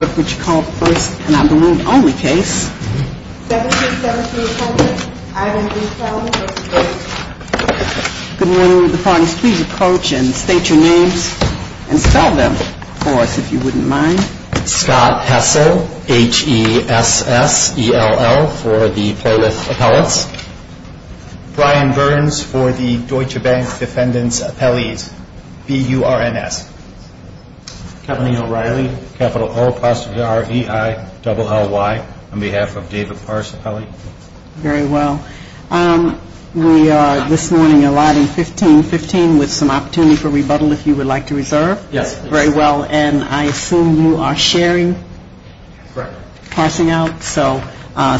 Brian Burns for the Deutsche Bank Defendant's Appellees, BURNS. Kevin O'Reilly, capital O-R-E-I-L-L-Y on behalf of David Parse Appellee. Very well. We are this morning allotting 15-15 with some opportunity for rebuttal if you would like to reserve. Yes. Very well. And I assume you are sharing. Correct. Parsing out. So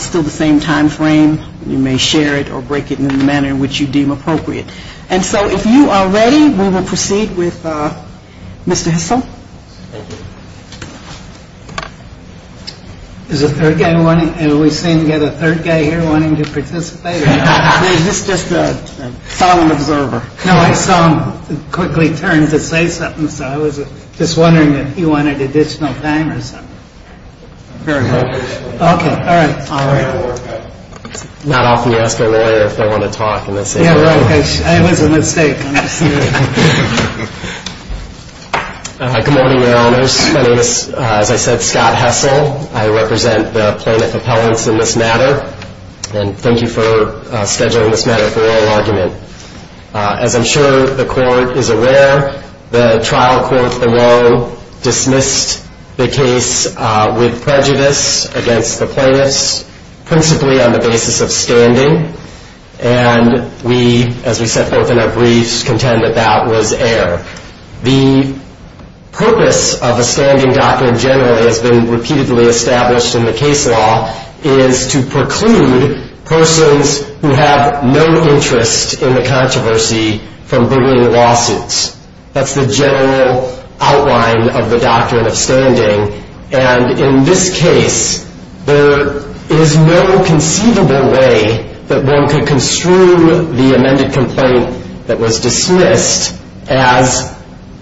still the same time frame. You may share it or break it in the manner in which you deem appropriate. And so if you are ready, we will proceed with Mr. Hissel. Thank you. Is the third guy wanting, have we seen yet a third guy here wanting to participate? Or is this just a solemn observer? No, I saw him quickly turn to say something, so I was just wondering if he wanted additional time or something. Very well. Okay. All right. Not often you ask a lawyer if they want to talk. Yeah, right. It was a mistake. Good morning, Your Honors. My name is, as I said, Scott Hissel. I represent the plaintiff appellants in this matter. And thank you for scheduling this matter for oral argument. As I'm sure the court is aware, the trial court in Rome dismissed the case with prejudice against the plaintiffs, principally on the basis of standing. And we, as we said both in our briefs, contend that that was error. The purpose of a standing document generally has been repeatedly established in the case law, is to preclude persons who have no interest in the controversy from bringing lawsuits. That's the general outline of the doctrine of standing. And in this case, there is no conceivable way that one could construe the amended complaint that was dismissed as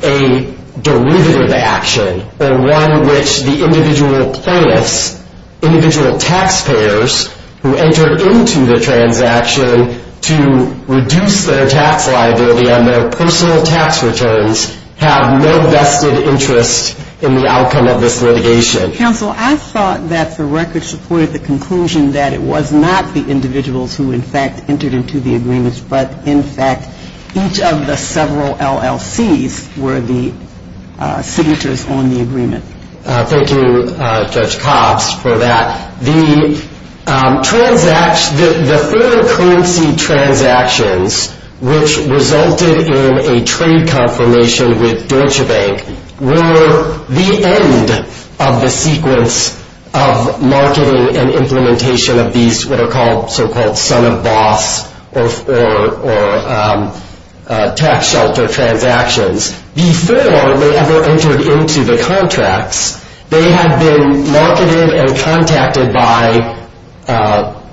a derivative action, or one which the individual plaintiffs, individual taxpayers who entered into the transaction to reduce their tax liability on their personal tax returns, have no vested interest in the outcome of this litigation. Counsel, I thought that the record supported the conclusion that it was not the individuals who, in fact, entered into the agreement, but in fact, each of the several LLCs were the signatures on the agreement. Thank you, Judge Cobbs, for that. The further currency transactions which resulted in a trade confirmation with Deutsche Bank were the end of the sequence of marketing and implementation of these what are called so-called son-of-boss or tax shelter transactions. Before they ever entered into the contracts, they had been marketed and contacted by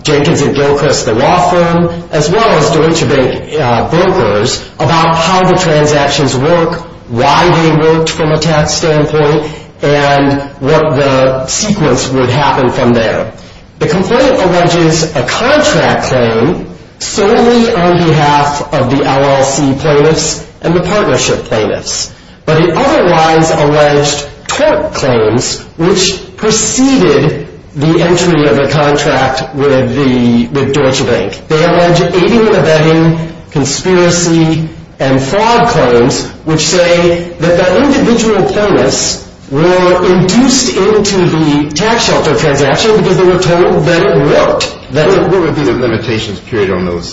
Jenkins & Gilchrist, the law firm, as well as Deutsche Bank brokers about how the transactions work, why they worked from a tax standpoint, and what the sequence would happen from there. The complaint alleges a contract claim solely on behalf of the LLC plaintiffs and the partnership plaintiffs. But it otherwise alleged tort claims which preceded the entry of the contract with Deutsche Bank. They allege aiding and abetting, conspiracy, and fraud claims, which say that the individual plaintiffs were induced into the tax shelter transaction because they were told that it worked. What would be the limitations, period, on those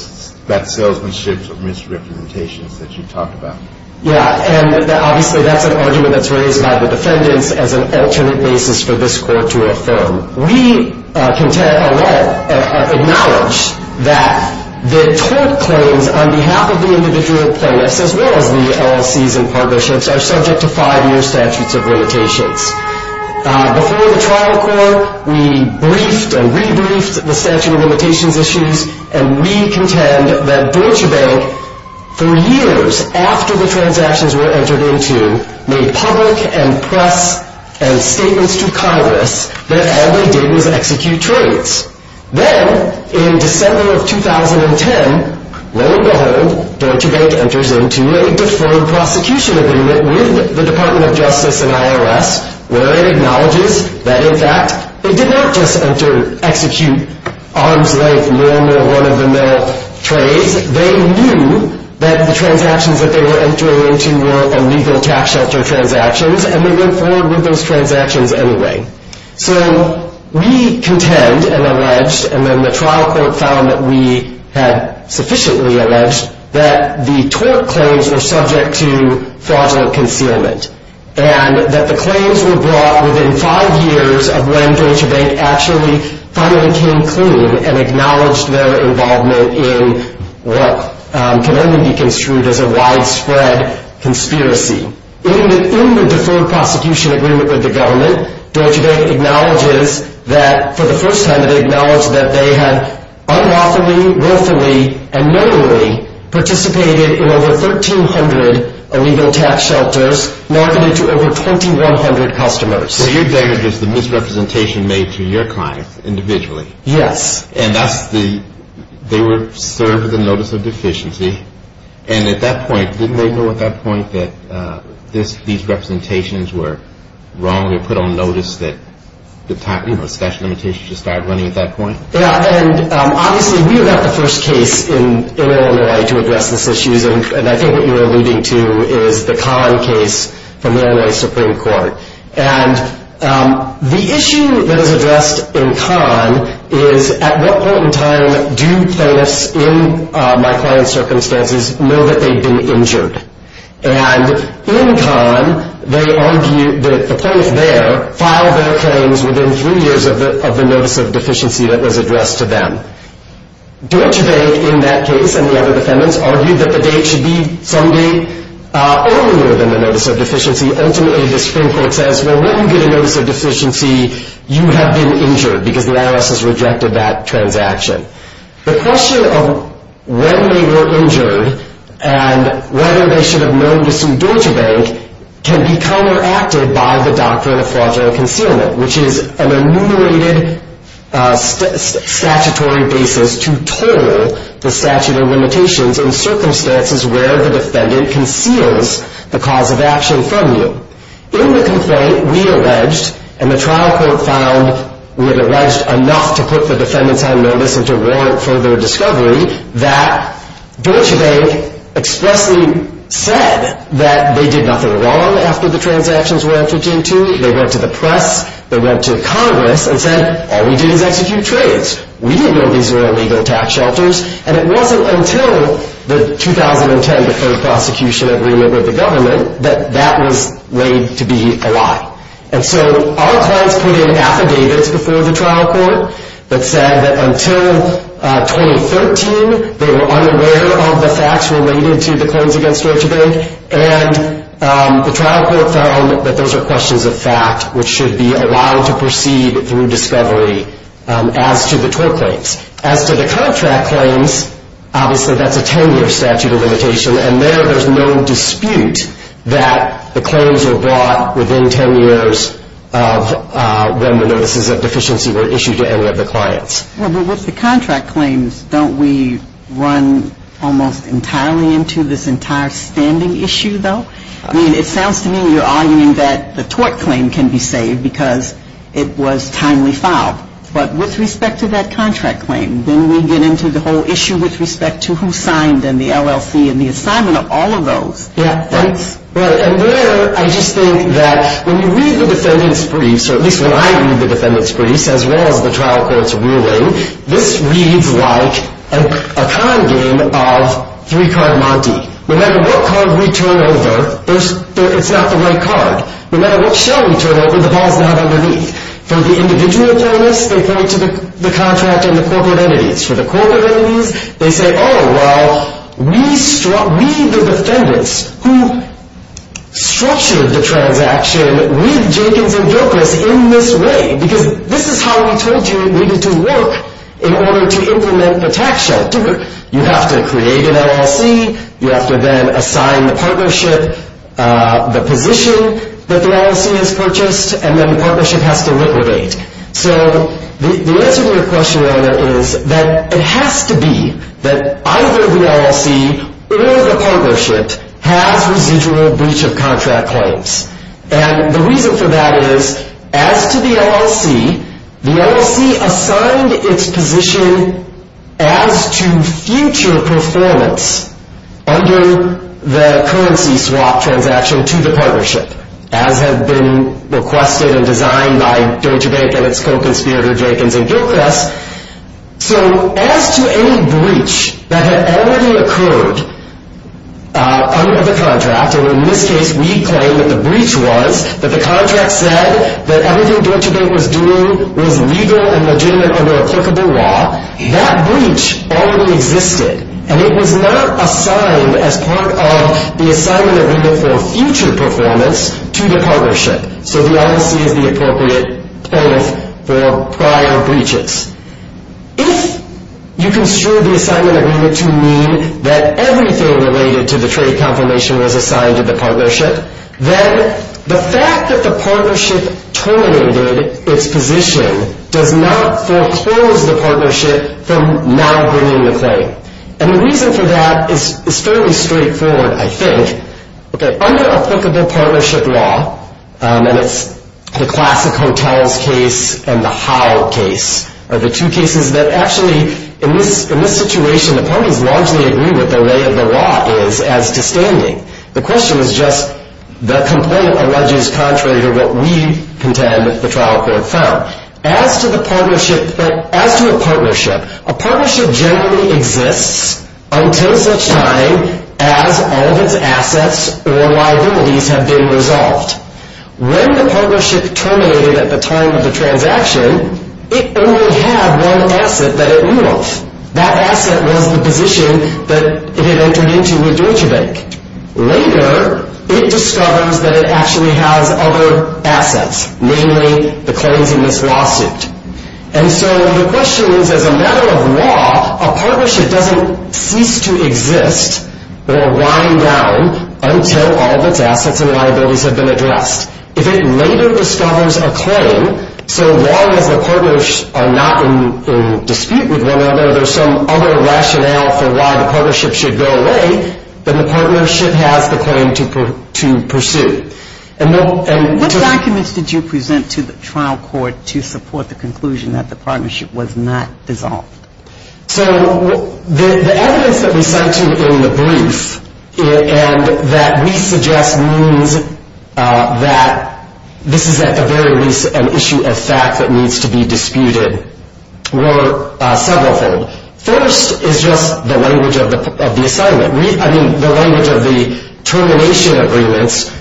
salesmanship misrepresentations that you talked about? Yeah, and obviously that's an argument that's raised by the defendants as an alternate basis for this court to affirm. We acknowledge that the tort claims on behalf of the individual plaintiffs, as well as the LLCs and partnerships, are subject to five-year statutes of limitations. Before the trial court, we briefed and re-briefed the statute of limitations issues, and we contend that Deutsche Bank, for years after the transactions were entered into, made public and press statements to Congress that all they did was execute trades. Then, in December of 2010, lo and behold, Deutsche Bank enters into a deformed prosecution agreement with the Department of Justice and IRS, where it acknowledges that, in fact, they did not just execute arms-length, one-of-a-mill trades. They knew that the transactions that they were entering into were illegal tax shelter transactions, and they went forward with those transactions anyway. So we contend and allege, and then the trial court found that we had sufficiently alleged, that the tort claims were subject to fraudulent concealment, and that the claims were brought within five years of when Deutsche Bank actually finally came clean and acknowledged their involvement in what can only be construed as a widespread conspiracy. In the deformed prosecution agreement with the government, Deutsche Bank acknowledges that, for the first time, they had unlawfully, willfully, and knowingly participated in over 1,300 illegal tax shelters, marketed to over 2,100 customers. So your data gives the misrepresentation made to your clients individually. Yes. And they were served with a notice of deficiency, and at that point, didn't they know at that point that these representations were wrong? They were put on notice that the statute of limitations just started running at that point? Yeah, and obviously, we were not the first case in Illinois to address these issues, and I think what you're alluding to is the Kahn case from Illinois Supreme Court. And the issue that is addressed in Kahn is, at what point in time do plaintiffs in my client's circumstances know that they've been injured? And in Kahn, they argue that the plaintiff there filed their claims within three years of the notice of deficiency that was addressed to them. Deutsche Bank, in that case, and the other defendants, argued that the date should be some day earlier than the notice of deficiency. Ultimately, the Supreme Court says, well, when you get a notice of deficiency, you have been injured because the IRS has rejected that transaction. The question of when they were injured and whether they should have known to sue Deutsche Bank can be counteracted by the doctrine of fraudulent concealment, which is an enumerated statutory basis to toll the statute of limitations in circumstances where the defendant conceals the cause of action from you. In the complaint, we alleged, and the trial court found we had alleged enough to put the defendants on notice and to warrant further discovery, that Deutsche Bank expressly said that they did nothing wrong after the transactions were entered into. They went to the press. They went to Congress and said, all we did is execute trades. We didn't know these were illegal tax shelters. And it wasn't until the 2010 deferred prosecution agreement with the government that that was laid to be a lie. And so our clients put in affidavits before the trial court that said that until 2013, they were unaware of the facts related to the claims against Deutsche Bank, and the trial court found that those are questions of fact which should be allowed to proceed through discovery as to the toll claims. As to the contract claims, obviously that's a 10-year statute of limitation, and there there's no dispute that the claims were brought within 10 years of when the notices of deficiency were issued to any of the clients. Well, but with the contract claims, don't we run almost entirely into this entire standing issue, though? I mean, it sounds to me you're arguing that the tort claim can be saved because it was timely filed. But with respect to that contract claim, then we get into the whole issue with respect to who signed and the LLC and the assignment of all of those. Yeah, and there I just think that when you read the defendant's briefs, or at least when I read the defendant's briefs, as well as the trial court's ruling, this reads like a con game of three-card Monty. No matter what card we turn over, it's not the right card. No matter what show we turn over, the ball's not underneath. For the individual plaintiffs, they point to the contract and the corporate entities. For the corporate entities, they say, oh, well, we, the defendants, who structured the transaction with Jenkins and Gilchrist in this way, because this is how we told you it needed to work in order to implement the tax shelter. You have to create an LLC. You have to then assign the partnership the position that the LLC has purchased, and then the partnership has to liquidate. So the answer to your question on that is that it has to be that either the LLC or the partnership has residual breach of contract claims. And the reason for that is, as to the LLC, the LLC assigned its position as to future performance under the currency swap transaction to the partnership, as had been requested and designed by Deutsche Bank and its co-conspirator Jenkins and Gilchrist. So as to any breach that had already occurred under the contract, and in this case we claim that the breach was, that the contract said that everything Deutsche Bank was doing was legal and legitimate under applicable law, that breach already existed. And it was not assigned as part of the assignment agreement for future performance to the partnership. So the LLC is the appropriate claim for prior breaches. If you construed the assignment agreement to mean that everything related to the trade confirmation was assigned to the partnership, then the fact that the partnership tolerated its position does not foreclose the partnership from now bringing the claim. And the reason for that is fairly straightforward, I think. Under applicable partnership law, and it's the classic hotels case and the how case are the two cases that actually, in this situation, the parties largely agree what the lay of the law is as to standing. The question is just the complaint alleges contrary to what we contend that the trial court found. As to the partnership, as to a partnership, a partnership generally exists until such time as all of its assets or liabilities have been resolved. When the partnership terminated at the time of the transaction, it only had one asset that it knew of. That asset was the position that it had entered into with Deutsche Bank. Later, it discovers that it actually has other assets, namely the claims in this lawsuit. And so the question is, as a matter of law, a partnership doesn't cease to exist or wind down until all of its assets and liabilities have been addressed. If it later discovers a claim, so long as the partners are not in dispute with one another, there's some other rationale for why the partnership should go away than the partnership has the claim to pursue. What documents did you present to the trial court to support the conclusion that the partnership was not dissolved? So the evidence that we cite in the brief and that we suggest means that this is at the very least an issue of fact that needs to be disputed were severalfold. First is just the language of the assignment. I mean, the language of the termination agreements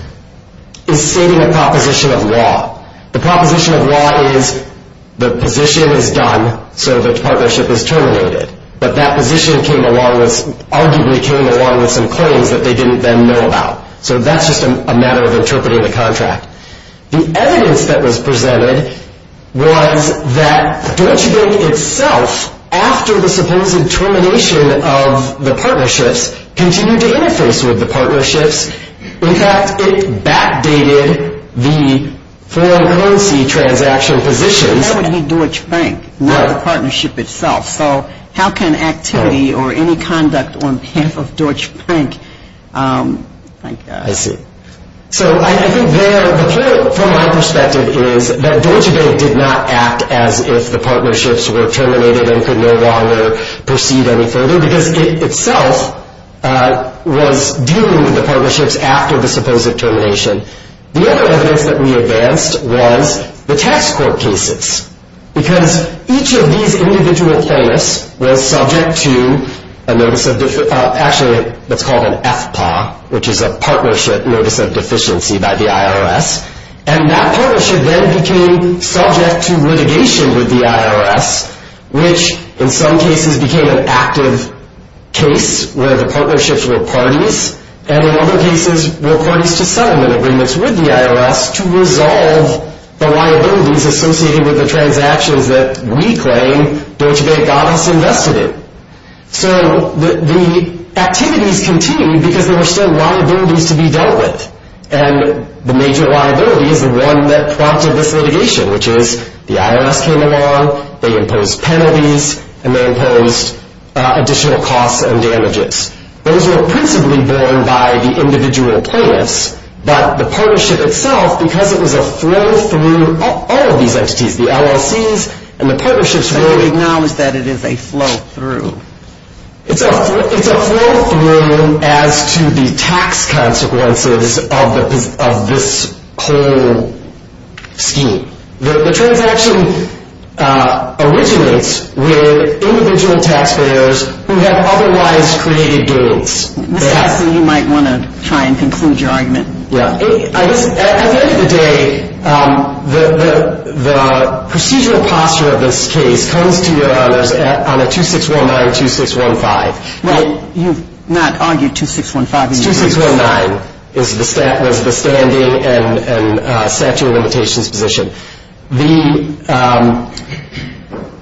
is stating a proposition of law. The proposition of law is the position is done, so the partnership is terminated. But that position arguably came along with some claims that they didn't then know about. So that's just a matter of interpreting the contract. The evidence that was presented was that Deutsche Bank itself, after the supposed termination of the partnerships, continued to interface with the partnerships. In fact, it backdated the foreign currency transaction positions. But that would be Deutsche Bank, not the partnership itself. So how can activity or any conduct on behalf of Deutsche Bank? I see. So I think there, from my perspective, is that Deutsche Bank did not act as if the partnerships were terminated and could no longer proceed any further because it itself was dealing with the partnerships after the supposed termination. The other evidence that we advanced was the tax court cases because each of these individual plaintiffs was subject to a notice of actually what's called an FPA, which is a Partnership Notice of Deficiency by the IRS. And that partnership then became subject to litigation with the IRS, which in some cases became an active case where the partnerships were parties, and in other cases were parties to settlement agreements with the IRS to resolve the liabilities associated with the transactions that we claim Deutsche Bank got us invested in. So the activities continued because there were still liabilities to be dealt with. And the major liability is the one that prompted this litigation, which is the IRS came along, they imposed penalties, and they imposed additional costs and damages. Those were principally borne by the individual plaintiffs, but the partnership itself, because it was a flow through all of these entities, the LLCs and the partnerships were... So you acknowledge that it is a flow through. It's a flow through as to the tax consequences of this whole scheme. The transaction originates with individual taxpayers who have otherwise created gains. So you might want to try and conclude your argument. Yeah. At the end of the day, the procedural posture of this case comes, to your honors, on a 2619-2615. Well, you've not argued 2615. 2619 was the standing and statute of limitations position.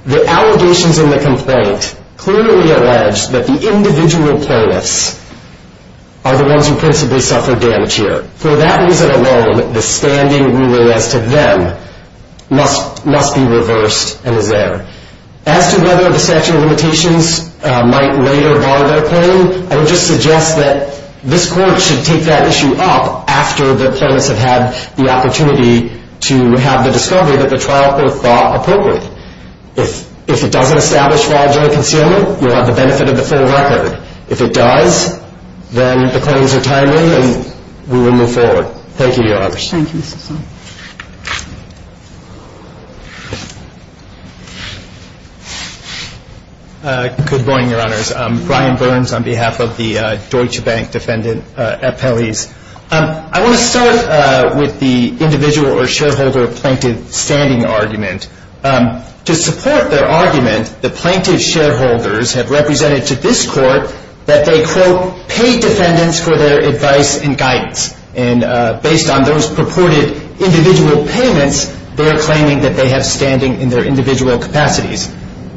The allegations in the complaint clearly allege that the individual plaintiffs are the ones who principally suffer damage here. For that reason alone, the standing ruling as to them must be reversed and is there. As to whether the statute of limitations might later bar their claim, I would just suggest that this court should take that issue up after the plaintiffs have had the opportunity to have the discovery that the trial court thought appropriate. If it doesn't establish fraudulent concealment, you'll have the benefit of the full record. If it does, then the claims are timely and we will move forward. Thank you, your honors. Thank you, Mr. Song. Good morning, your honors. I'm Brian Burns on behalf of the Deutsche Bank Defendant Appellees. I want to start with the individual or shareholder plaintiff standing argument. To support their argument, the plaintiff shareholders have represented to this court that they, quote, paid defendants for their advice and guidance. And based on those purported individual payments, they are claiming that they have standing in their individual capacities.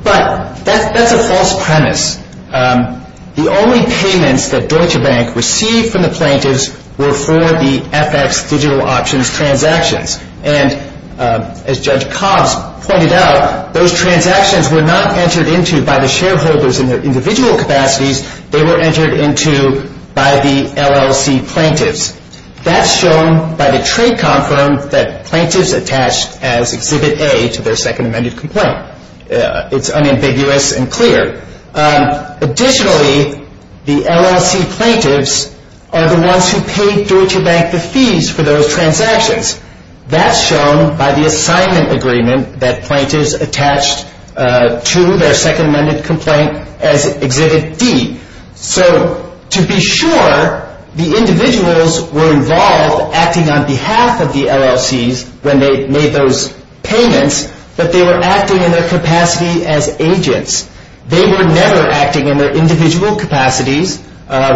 But that's a false premise. The only payments that Deutsche Bank received from the plaintiffs were for the FX digital options transactions. And as Judge Cobbs pointed out, those transactions were not entered into by the shareholders in their individual capacities. They were entered into by the LLC plaintiffs. That's shown by the trade conference that plaintiffs attached as Exhibit A to their second amended complaint. It's unambiguous and clear. Additionally, the LLC plaintiffs are the ones who paid Deutsche Bank the fees for those transactions. That's shown by the assignment agreement that plaintiffs attached to their second amended complaint as Exhibit D. So to be sure, the individuals were involved acting on behalf of the LLCs when they made those payments, but they were acting in their capacity as agents. They were never acting in their individual capacities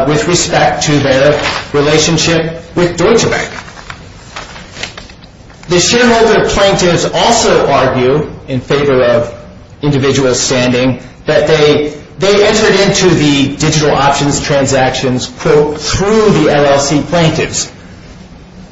with respect to their relationship with Deutsche Bank. The shareholder plaintiffs also argue in favor of individual standing that they entered into the digital options transactions through the LLC plaintiffs.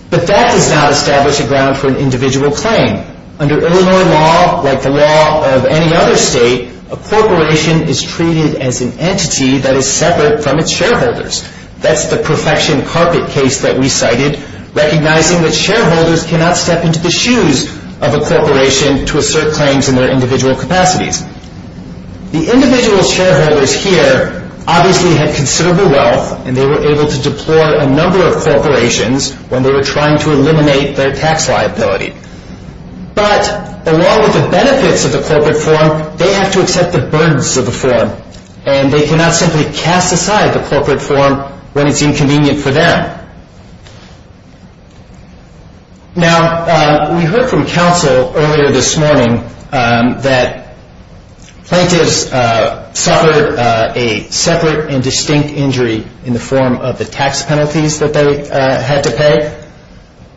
But that does not establish a ground for an individual claim. Under Illinois law, like the law of any other state, a corporation is treated as an entity that is separate from its shareholders. That's the perfection carpet case that we cited, recognizing that shareholders cannot step into the shoes of a corporation to assert claims in their individual capacities. The individual shareholders here obviously had considerable wealth, and they were able to deplore a number of corporations when they were trying to eliminate their tax liability. But along with the benefits of the corporate form, they have to accept the burdens of the form, and they cannot simply cast aside the corporate form when it's inconvenient for them. Now, we heard from counsel earlier this morning that plaintiffs suffered a separate and distinct injury in the form of the tax penalties that they had to pay.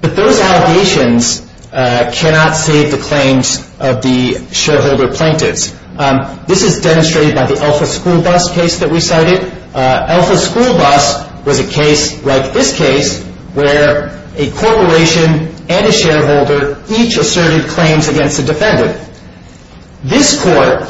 But those allegations cannot save the claims of the shareholder plaintiffs. This is demonstrated by the Alpha School Bus case that we cited. Alpha School Bus was a case like this case, where a corporation and a shareholder each asserted claims against a defendant. This court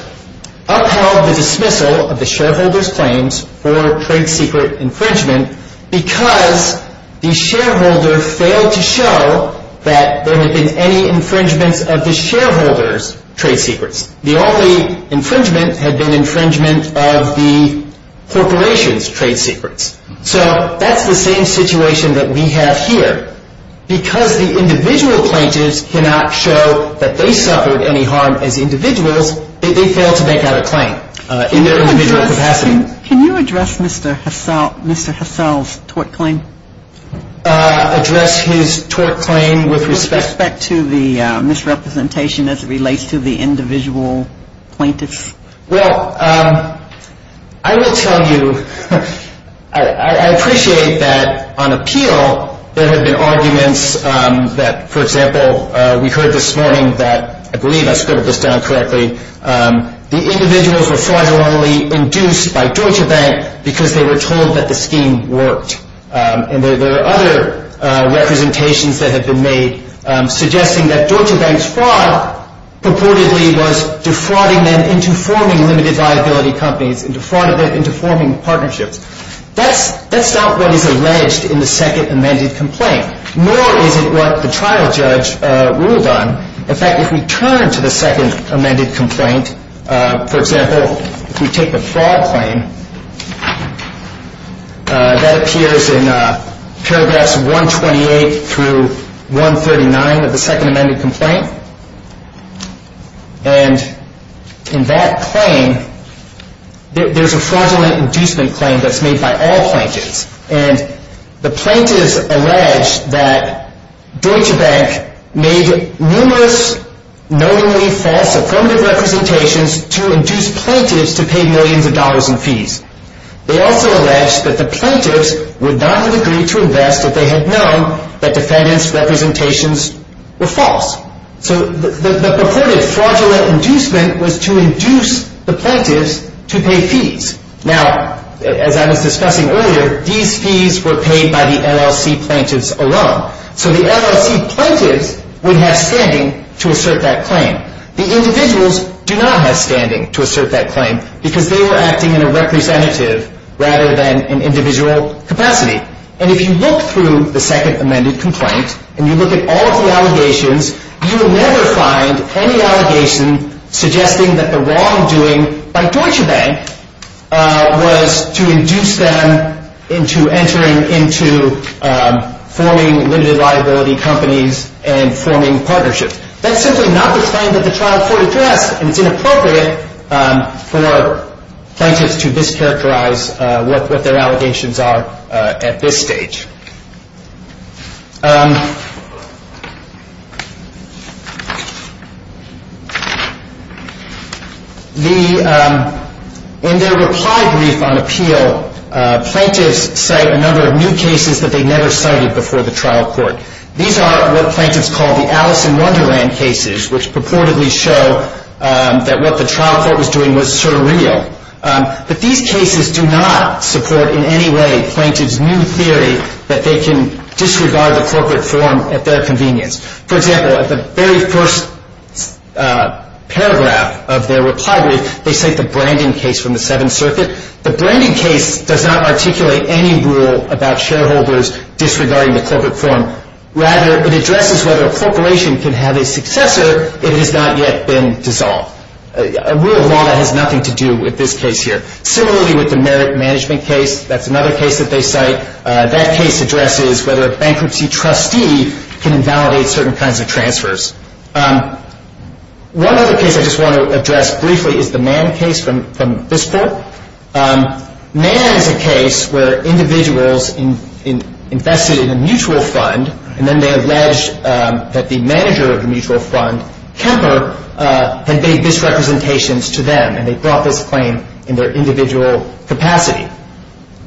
upheld the dismissal of the shareholder's claims for trade secret infringement because the shareholder failed to show that there had been any infringements of the shareholder's trade secrets. The only infringement had been infringement of the corporation's trade secrets. So that's the same situation that we have here. Because the individual plaintiffs cannot show that they suffered any harm as individuals, they failed to make out a claim in their individual capacity. Can you address Mr. Hassell's tort claim? Address his tort claim with respect to the misrepresentation as it relates to the individual plaintiffs? Well, I will tell you, I appreciate that on appeal, there have been arguments that, for example, we heard this morning that, I believe I scribbled this down correctly, the individuals were fraudulently induced by Deutsche Bank because they were told that the scheme worked. And there are other representations that have been made suggesting that Deutsche Bank's fraud purportedly was defrauding them into forming limited liability companies and defrauding them into forming partnerships. That's not what is alleged in the second amended complaint, nor is it what the trial judge ruled on. In fact, if we turn to the second amended complaint, for example, if we take the fraud claim, that appears in paragraphs 128 through 139 of the second amended complaint. And in that claim, there's a fraudulent inducement claim that's made by all plaintiffs. And the plaintiffs allege that Deutsche Bank made numerous knowingly false affirmative representations to induce plaintiffs to pay millions of dollars in fees. They also allege that the plaintiffs would not have agreed to invest if they had known that defendants' representations were false. So the purported fraudulent inducement was to induce the plaintiffs to pay fees. Now, as I was discussing earlier, these fees were paid by the LLC plaintiffs alone. So the LLC plaintiffs would have standing to assert that claim. The individuals do not have standing to assert that claim because they were acting in a representative rather than an individual capacity. And if you look through the second amended complaint and you look at all of the allegations, you will never find any allegation suggesting that the wrongdoing by Deutsche Bank was to induce them into entering into forming limited liability companies and forming partnerships. That's simply not the claim that the trial court addressed, and it's inappropriate for plaintiffs to discharacterize what their allegations are at this stage. In their reply brief on appeal, plaintiffs cite a number of new cases that they never cited before the trial court. These are what plaintiffs call the Alice in Wonderland cases, which purportedly show that what the trial court was doing was surreal. But these cases do not support in any way plaintiffs' new theory that they can disregard the corporate form at their convenience. For example, at the very first paragraph of their reply brief, they cite the Branding case from the Seventh Circuit. The Branding case does not articulate any rule about shareholders disregarding the corporate form. Rather, it addresses whether a corporation can have a successor if it has not yet been dissolved, a rule of law that has nothing to do with this case here. Similarly with the Merit Management case, that's another case that they cite. That case addresses whether a bankruptcy trustee can invalidate certain kinds of transfers. One other case I just want to address briefly is the Mann case from this court. Mann is a case where individuals invested in a mutual fund, and then they alleged that the manager of the mutual fund, Kemper, had made misrepresentations to them, and they brought this claim in their individual capacity.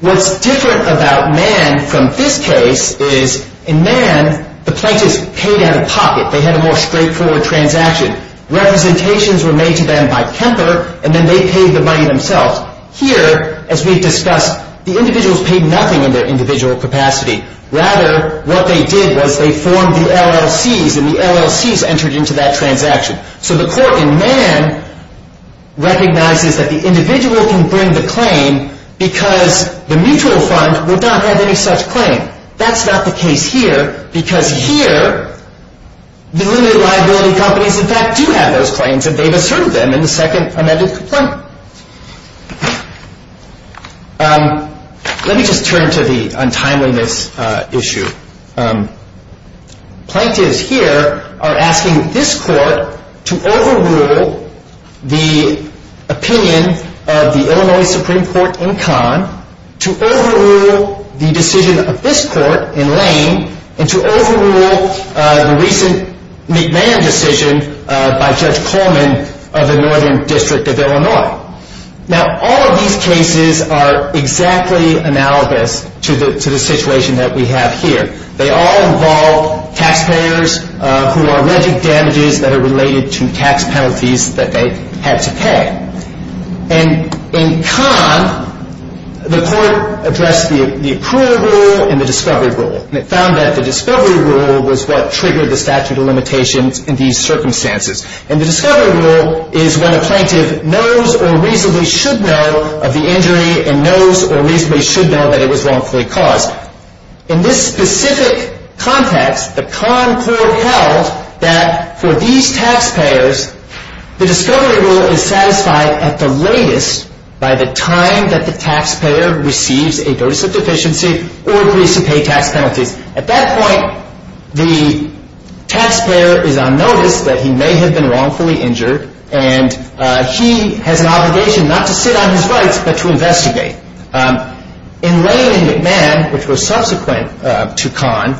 What's different about Mann from this case is in Mann, the plaintiffs paid out of pocket. They had a more straightforward transaction. Representations were made to them by Kemper, and then they paid the money themselves. Here, as we've discussed, the individuals paid nothing in their individual capacity. Rather, what they did was they formed the LLCs, and the LLCs entered into that transaction. So the court in Mann recognizes that the individual can bring the claim because the mutual fund would not have any such claim. That's not the case here, because here, the limited liability companies, in fact, do have those claims, and they've asserted them in the second amended complaint. Let me just turn to the untimeliness issue. Plaintiffs here are asking this court to overrule the opinion of the Illinois Supreme Court in Kahn, to overrule the decision of this court in Lane, and to overrule the recent McMahon decision by Judge Coleman of the Northern District of Illinois. Now, all of these cases are exactly analogous to the situation that we have here. They all involve taxpayers who are alleged damages that are related to tax penalties that they had to pay. And in Kahn, the court addressed the approval rule and the discovery rule, and it found that the discovery rule was what triggered the statute of limitations in these circumstances. And the discovery rule is when a plaintiff knows or reasonably should know of the injury and knows or reasonably should know that it was wrongfully caused. In this specific context, the Kahn court held that for these taxpayers, the discovery rule is satisfied at the latest by the time that the taxpayer receives a notice of deficiency or agrees to pay tax penalties. At that point, the taxpayer is on notice that he may have been wrongfully injured, and he has an obligation not to sit on his rights but to investigate. In Lane and McMahon, which was subsequent to Kahn,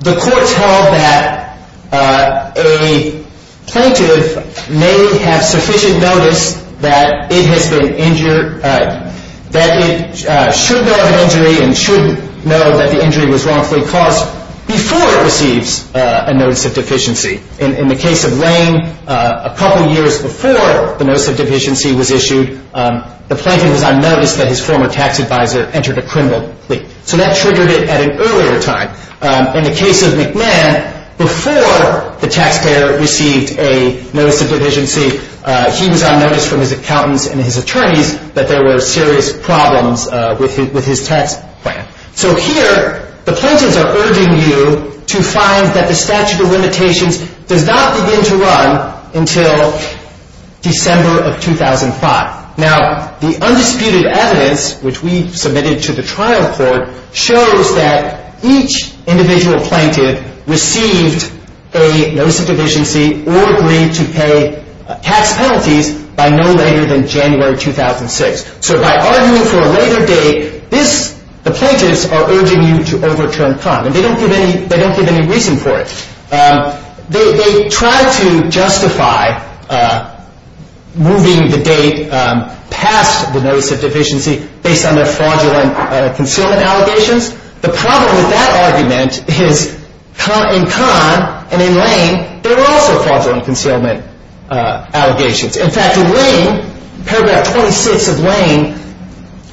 the court held that a plaintiff may have sufficient notice that it has been injured, that it should know of an injury and should know that the injury was wrongfully caused before it receives a notice of deficiency. In the case of Lane, a couple years before the notice of deficiency was issued, the plaintiff was on notice that his former tax advisor entered a criminal plea. So that triggered it at an earlier time. In the case of McMahon, before the taxpayer received a notice of deficiency, he was on notice from his accountants and his attorneys that there were serious problems with his tax plan. So here, the plaintiffs are urging you to find that the statute of limitations does not begin to run until December of 2005. Now, the undisputed evidence, which we submitted to the trial court, shows that each individual plaintiff received a notice of deficiency or agreed to pay tax penalties by no later than January 2006. So by arguing for a later date, the plaintiffs are urging you to overturn Kahn, and they don't give any reason for it. They try to justify moving the date past the notice of deficiency based on their fraudulent concealment allegations. The problem with that argument is in Kahn and in Lane, there were also fraudulent concealment allegations. In fact, in Lane, paragraph 26 of Lane,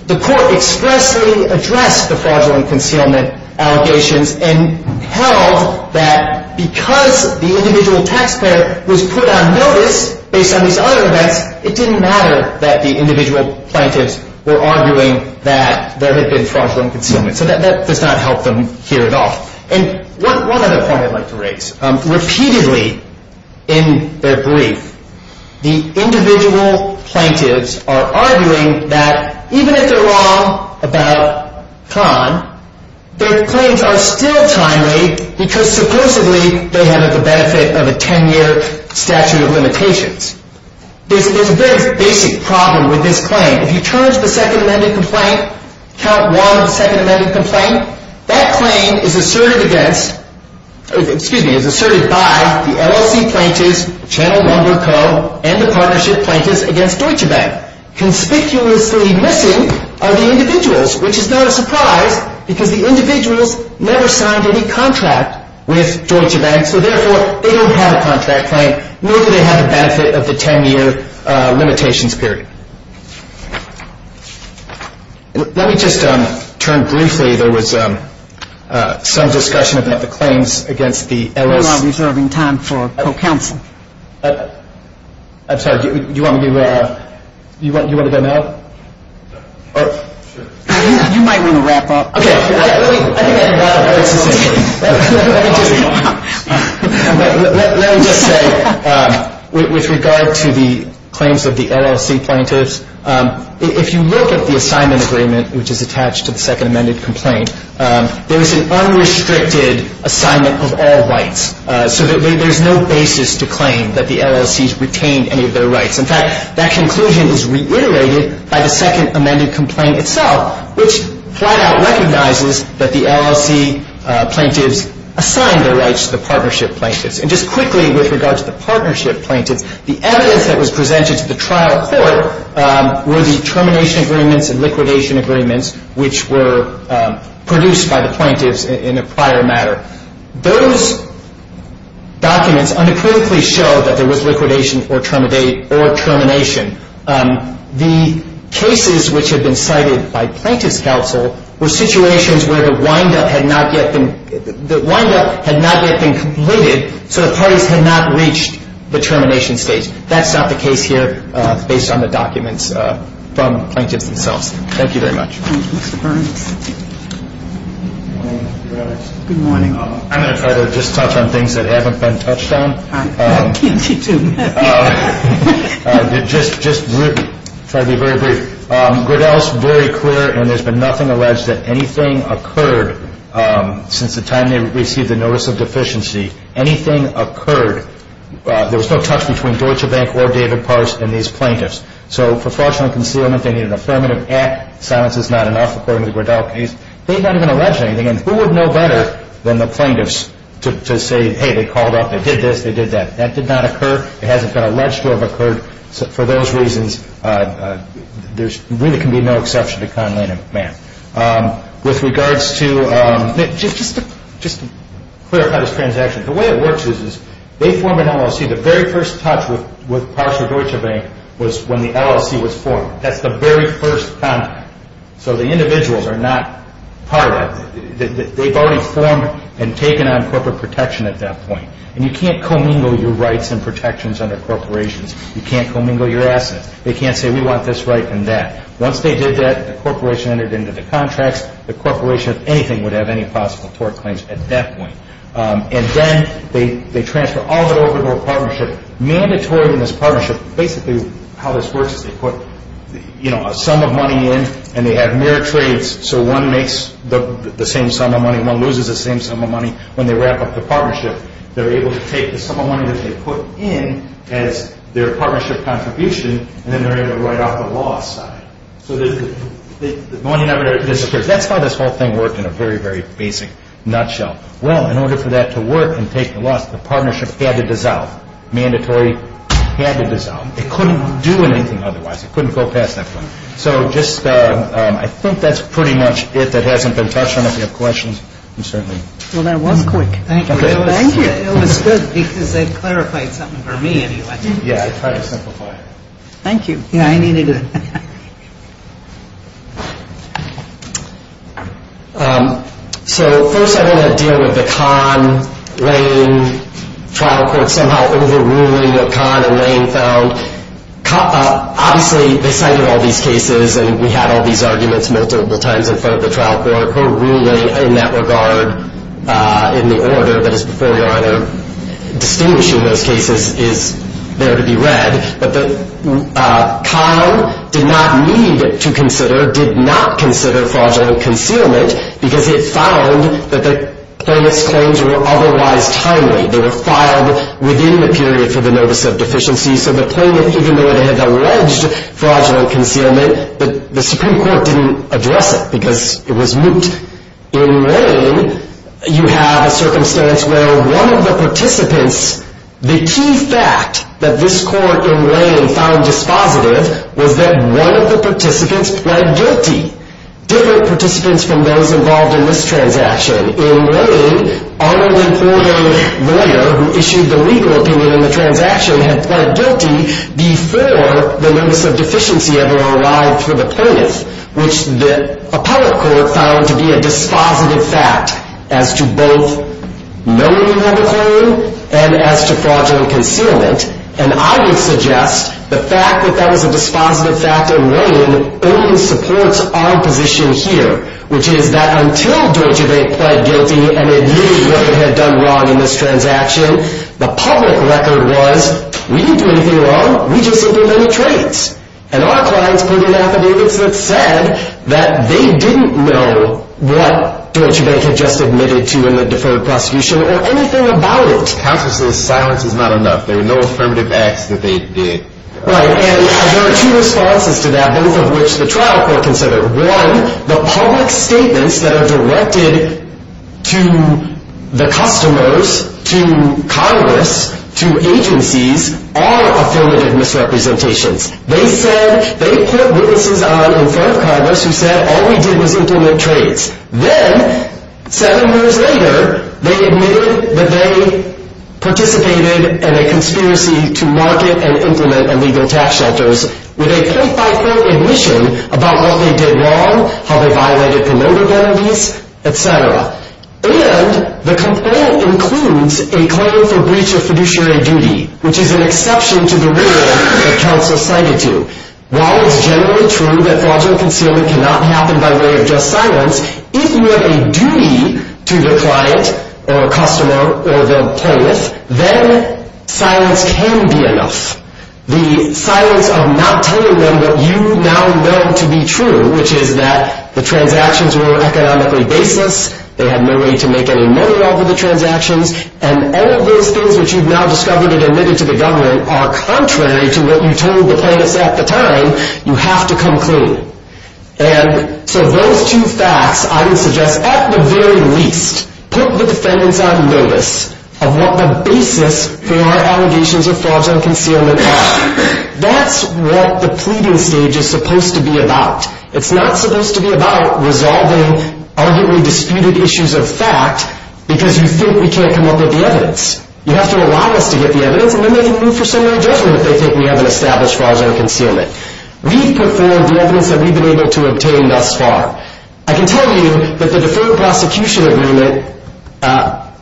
the court expressly addressed the fraudulent concealment allegations and held that because the individual taxpayer was put on notice based on these other events, it didn't matter that the individual plaintiffs were arguing that there had been fraudulent concealment. So that does not help them here at all. And one other point I'd like to raise. Repeatedly in their brief, the individual plaintiffs are arguing that even if they're wrong about Kahn, their claims are still timely because supposedly they have the benefit of a 10-year statute of limitations. There's a very basic problem with this claim. If you charge the second amended complaint, count one of the second amended complaint, that claim is asserted against, excuse me, is asserted by the LLC plaintiffs, Channel Lumber Co., and the partnership plaintiffs against Deutsche Bank. Conspicuously missing are the individuals, which is not a surprise because the individuals never signed any contract with Deutsche Bank, so therefore they don't have a contract claim, nor do they have the benefit of the 10-year limitations period. Let me just turn briefly. There was some discussion about the claims against the LLC. We're not reserving time for co-counsel. I'm sorry. Do you want to go now? You might want to wrap up. Okay. Let me just say, with regard to the claims of the LLC plaintiffs, if you look at the assignment agreement, which is attached to the second amended complaint, there is an unrestricted assignment of all rights. So there's no basis to claim that the LLC's retained any of their rights. In fact, that conclusion is reiterated by the second amended complaint itself, which flat out recognizes that the LLC plaintiffs assigned their rights to the partnership plaintiffs. And just quickly, with regard to the partnership plaintiffs, the evidence that was presented to the trial court were the termination agreements and liquidation agreements, which were produced by the plaintiffs in a prior matter. Those documents unequivocally show that there was liquidation or termination. The cases which had been cited by plaintiffs' counsel were situations where the windup had not yet been completed, so the parties had not reached the termination stage. That's not the case here, based on the documents from the plaintiffs themselves. Thank you very much. Thank you, Mr. Burns. Good morning, Mr. Reddick. Good morning. I'm going to try to just touch on things that haven't been touched on. Can't you do that? Just try to be very brief. Griddell is very clear, and there's been nothing alleged that anything occurred since the time they received the notice of deficiency. Anything occurred, there was no touch between Deutsche Bank or David Pars and these plaintiffs. So for fraudulent concealment, they need an affirmative act. Silence is not enough, according to the Griddell case. They've not even alleged anything, and who would know better than the plaintiffs to say, hey, they called up, they did this, they did that. That did not occur. It hasn't been alleged to have occurred. For those reasons, there really can be no exception to Conn, Lane, and McMahon. With regards to just to clarify this transaction, the way it works is they form an LLC. The very first touch with Pars or Deutsche Bank was when the LLC was formed. That's the very first contact. So the individuals are not part of it. They've already formed and taken on corporate protection at that point. And you can't commingle your rights and protections under corporations. You can't commingle your assets. They can't say, we want this right and that. Once they did that, the corporation entered into the contracts. The corporation, if anything, would have any possible tort claims at that point. And then they transfer all of it over to a partnership. Mandatory in this partnership, basically how this works is they put a sum of money in and they have mirror trades. So one makes the same sum of money and one loses the same sum of money. When they wrap up the partnership, they're able to take the sum of money that they put in as their partnership contribution and then they're able to write off the loss side. So the money never disappears. That's how this whole thing worked in a very, very basic nutshell. Well, in order for that to work and take the loss, the partnership had to dissolve. Mandatory had to dissolve. It couldn't do anything otherwise. It couldn't go past that point. So just I think that's pretty much it that hasn't been touched on. If you have questions, I'm certainly. Well, that was quick. Thank you. It was good because they clarified something for me anyway. Yeah, I tried to simplify it. Thank you. Yeah, I needed it. So first I want to deal with the Kahn-Lane trial court somehow overruling what Kahn and Lane found. Obviously, they cited all these cases and we had all these arguments multiple times in front of the trial court. Her ruling in that regard in the order that is before you, either distinguishing those cases is there to be read. But Kahn did not need to consider, did not consider fraudulent concealment because it found that the plaintiff's claims were otherwise timely. They were filed within the period for the notice of deficiency. So the plaintiff, even though it had alleged fraudulent concealment, the Supreme Court didn't address it because it was moot. In Lane, you have a circumstance where one of the participants, the key fact that this court in Lane found dispositive was that one of the participants pled guilty. Different participants from those involved in this transaction. In Lane, Arnold and Courday, the lawyer who issued the legal opinion in the transaction, had pled guilty before the notice of deficiency ever arrived for the plaintiff, which the appellate court found to be a dispositive fact as to both knowing you have a claim and as to fraudulent concealment. And I would suggest the fact that that was a dispositive fact in Lane only supports our position here, which is that until Deutsche Bank pled guilty and it knew what it had done wrong in this transaction, the public record was, we didn't do anything wrong, we just didn't do any trades. And our clients put in affidavits that said that they didn't know what Deutsche Bank had just admitted to in the deferred prosecution or anything about it. Consciously, silence is not enough. There were no affirmative acts that they did. Right, and there are two responses to that, both of which the trial court considered. One, the public statements that are directed to the customers, to Congress, to agencies, are affirmative misrepresentations. They said, they put witnesses on in front of Congress who said all we did was implement trades. Then, seven years later, they admitted that they participated in a conspiracy to market and implement illegal tax shelters with a point-by-point admission about what they did wrong, how they violated promoter benefits, etc. And the complaint includes a claim for breach of fiduciary duty, which is an exception to the rule that counsel cited to. While it's generally true that fraudulent concealment cannot happen by way of just silence, if you have a duty to the client or customer or the plaintiff, then silence can be enough. The silence of not telling them what you now know to be true, which is that the transactions were economically baseless, they had no way to make any money off of the transactions, and all of those things which you've now discovered and admitted to the government are contrary to what you told the plaintiffs at the time. You have to come clean. And so those two facts, I would suggest, at the very least, put the defendants on notice of what the basis for allegations of fraudulent concealment are. That's what the pleading stage is supposed to be about. It's not supposed to be about resolving arguably disputed issues of fact because you think we can't come up with the evidence. You have to allow us to get the evidence, and then they can move for summary judgment if they think we haven't established fraudulent concealment. We've performed the evidence that we've been able to obtain thus far. I can tell you that the deferred prosecution agreement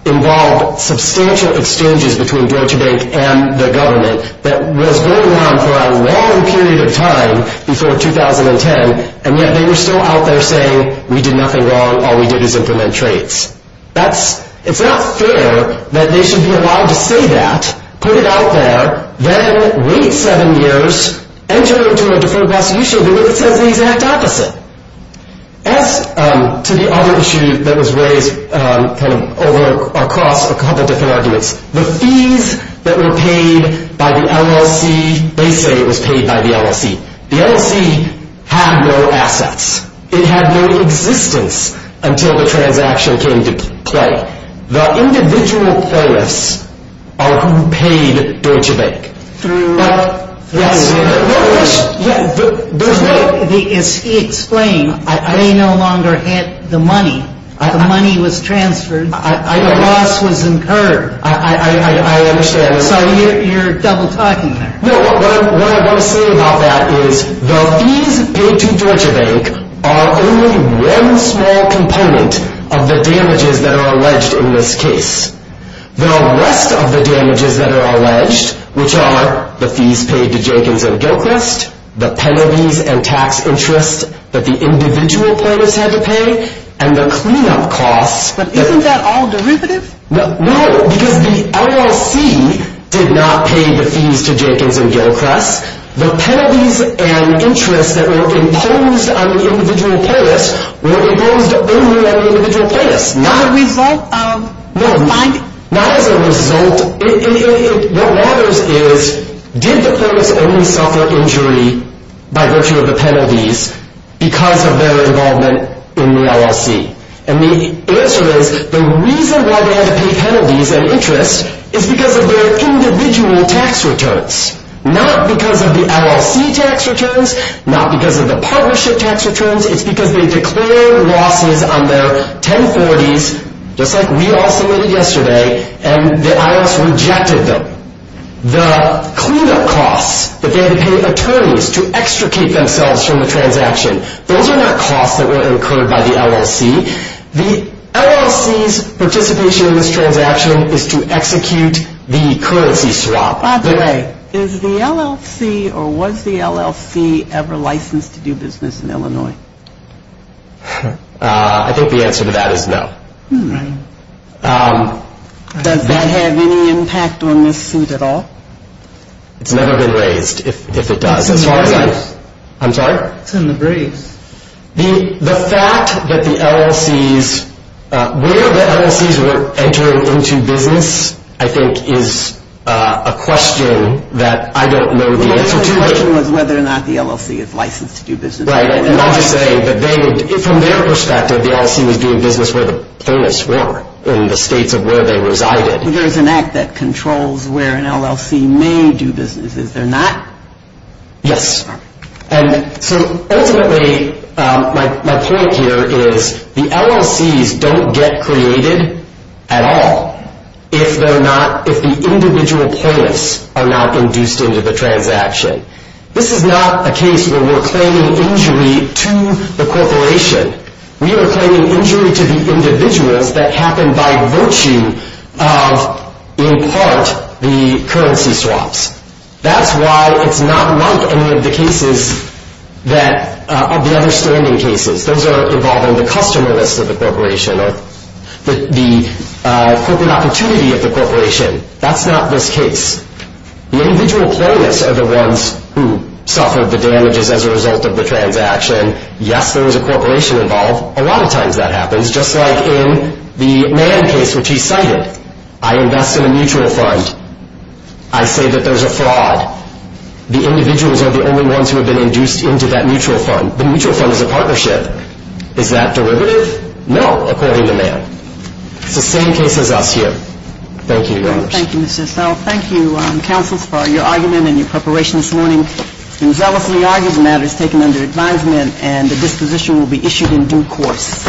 involved substantial exchanges between Deutsche Bank and the government that was going on for a long period of time before 2010, and yet they were still out there saying, we did nothing wrong, all we did was implement traits. It's not fair that they should be allowed to say that, put it out there, then wait seven years, enter into a deferred prosecution agreement that says the exact opposite. As to the other issue that was raised across a couple different arguments, the fees that were paid by the LLC, they say it was paid by the LLC. The LLC had no assets. It had no existence until the transaction came to play. The individual payers are who paid Deutsche Bank. But, yes, there's no... As he explained, they no longer had the money. The money was transferred. A loss was incurred. I understand. So you're double-talking there. No, what I want to say about that is the fees paid to Deutsche Bank are only one small component of the damages that are alleged in this case. The rest of the damages that are alleged, which are the fees paid to Jenkins and Gilchrist, the penalties and tax interest that the individual payers had to pay, and the cleanup costs... But isn't that all derivative? No, because the LLC did not pay the fees to Jenkins and Gilchrist. The penalties and interest that were imposed on the individual payers were imposed only on the individual payers. Not as a result of... No, not as a result. What matters is, did the payers only suffer injury by virtue of the penalties because of their involvement in the LLC? And the answer is, the reason why they had to pay penalties and interest is because of their individual tax returns. Not because of the LLC tax returns. Not because of the partnership tax returns. It's because they declared losses on their 1040s, just like we all submitted yesterday, and the IRS rejected them. The cleanup costs that they had to pay attorneys to extricate themselves from the transaction, those are not costs that were incurred by the LLC. The LLC's participation in this transaction is to execute the currency swap. By the way, is the LLC or was the LLC ever licensed to do business in Illinois? I think the answer to that is no. Does that have any impact on this suit at all? It's never been raised, if it does. I'm sorry? It's in the briefs. The fact that the LLC's, where the LLC's were entering into business, I think is a question that I don't know the answer to. The question was whether or not the LLC is licensed to do business. Right, and I'll just say that from their perspective, the LLC was doing business where the plaintiffs were, in the states of where they resided. There's an act that controls where an LLC may do business. Is there not? Yes. So ultimately, my point here is the LLC's don't get created at all if the individual plaintiffs are not induced into the transaction. This is not a case where we're claiming injury to the corporation. We are claiming injury to the individuals that happened by virtue of, in part, the currency swaps. That's why it's not like any of the cases of the other standing cases. Those are involving the customer list of the corporation or the corporate opportunity of the corporation. That's not this case. The individual plaintiffs are the ones who suffered the damages as a result of the transaction. Yes, there was a corporation involved. A lot of times that happens, just like in the Mann case, which he cited. I invest in a mutual fund. I say that there's a fraud. The individuals are the only ones who have been induced into that mutual fund. The mutual fund is a partnership. Is that derivative? No, according to Mann. It's the same case as us here. Thank you, Your Honors. Thank you, Mr. Estelle. Thank you, counsels, for your argument and your preparation this morning. The argument has been taken under advisement, and the disposition will be issued in due course.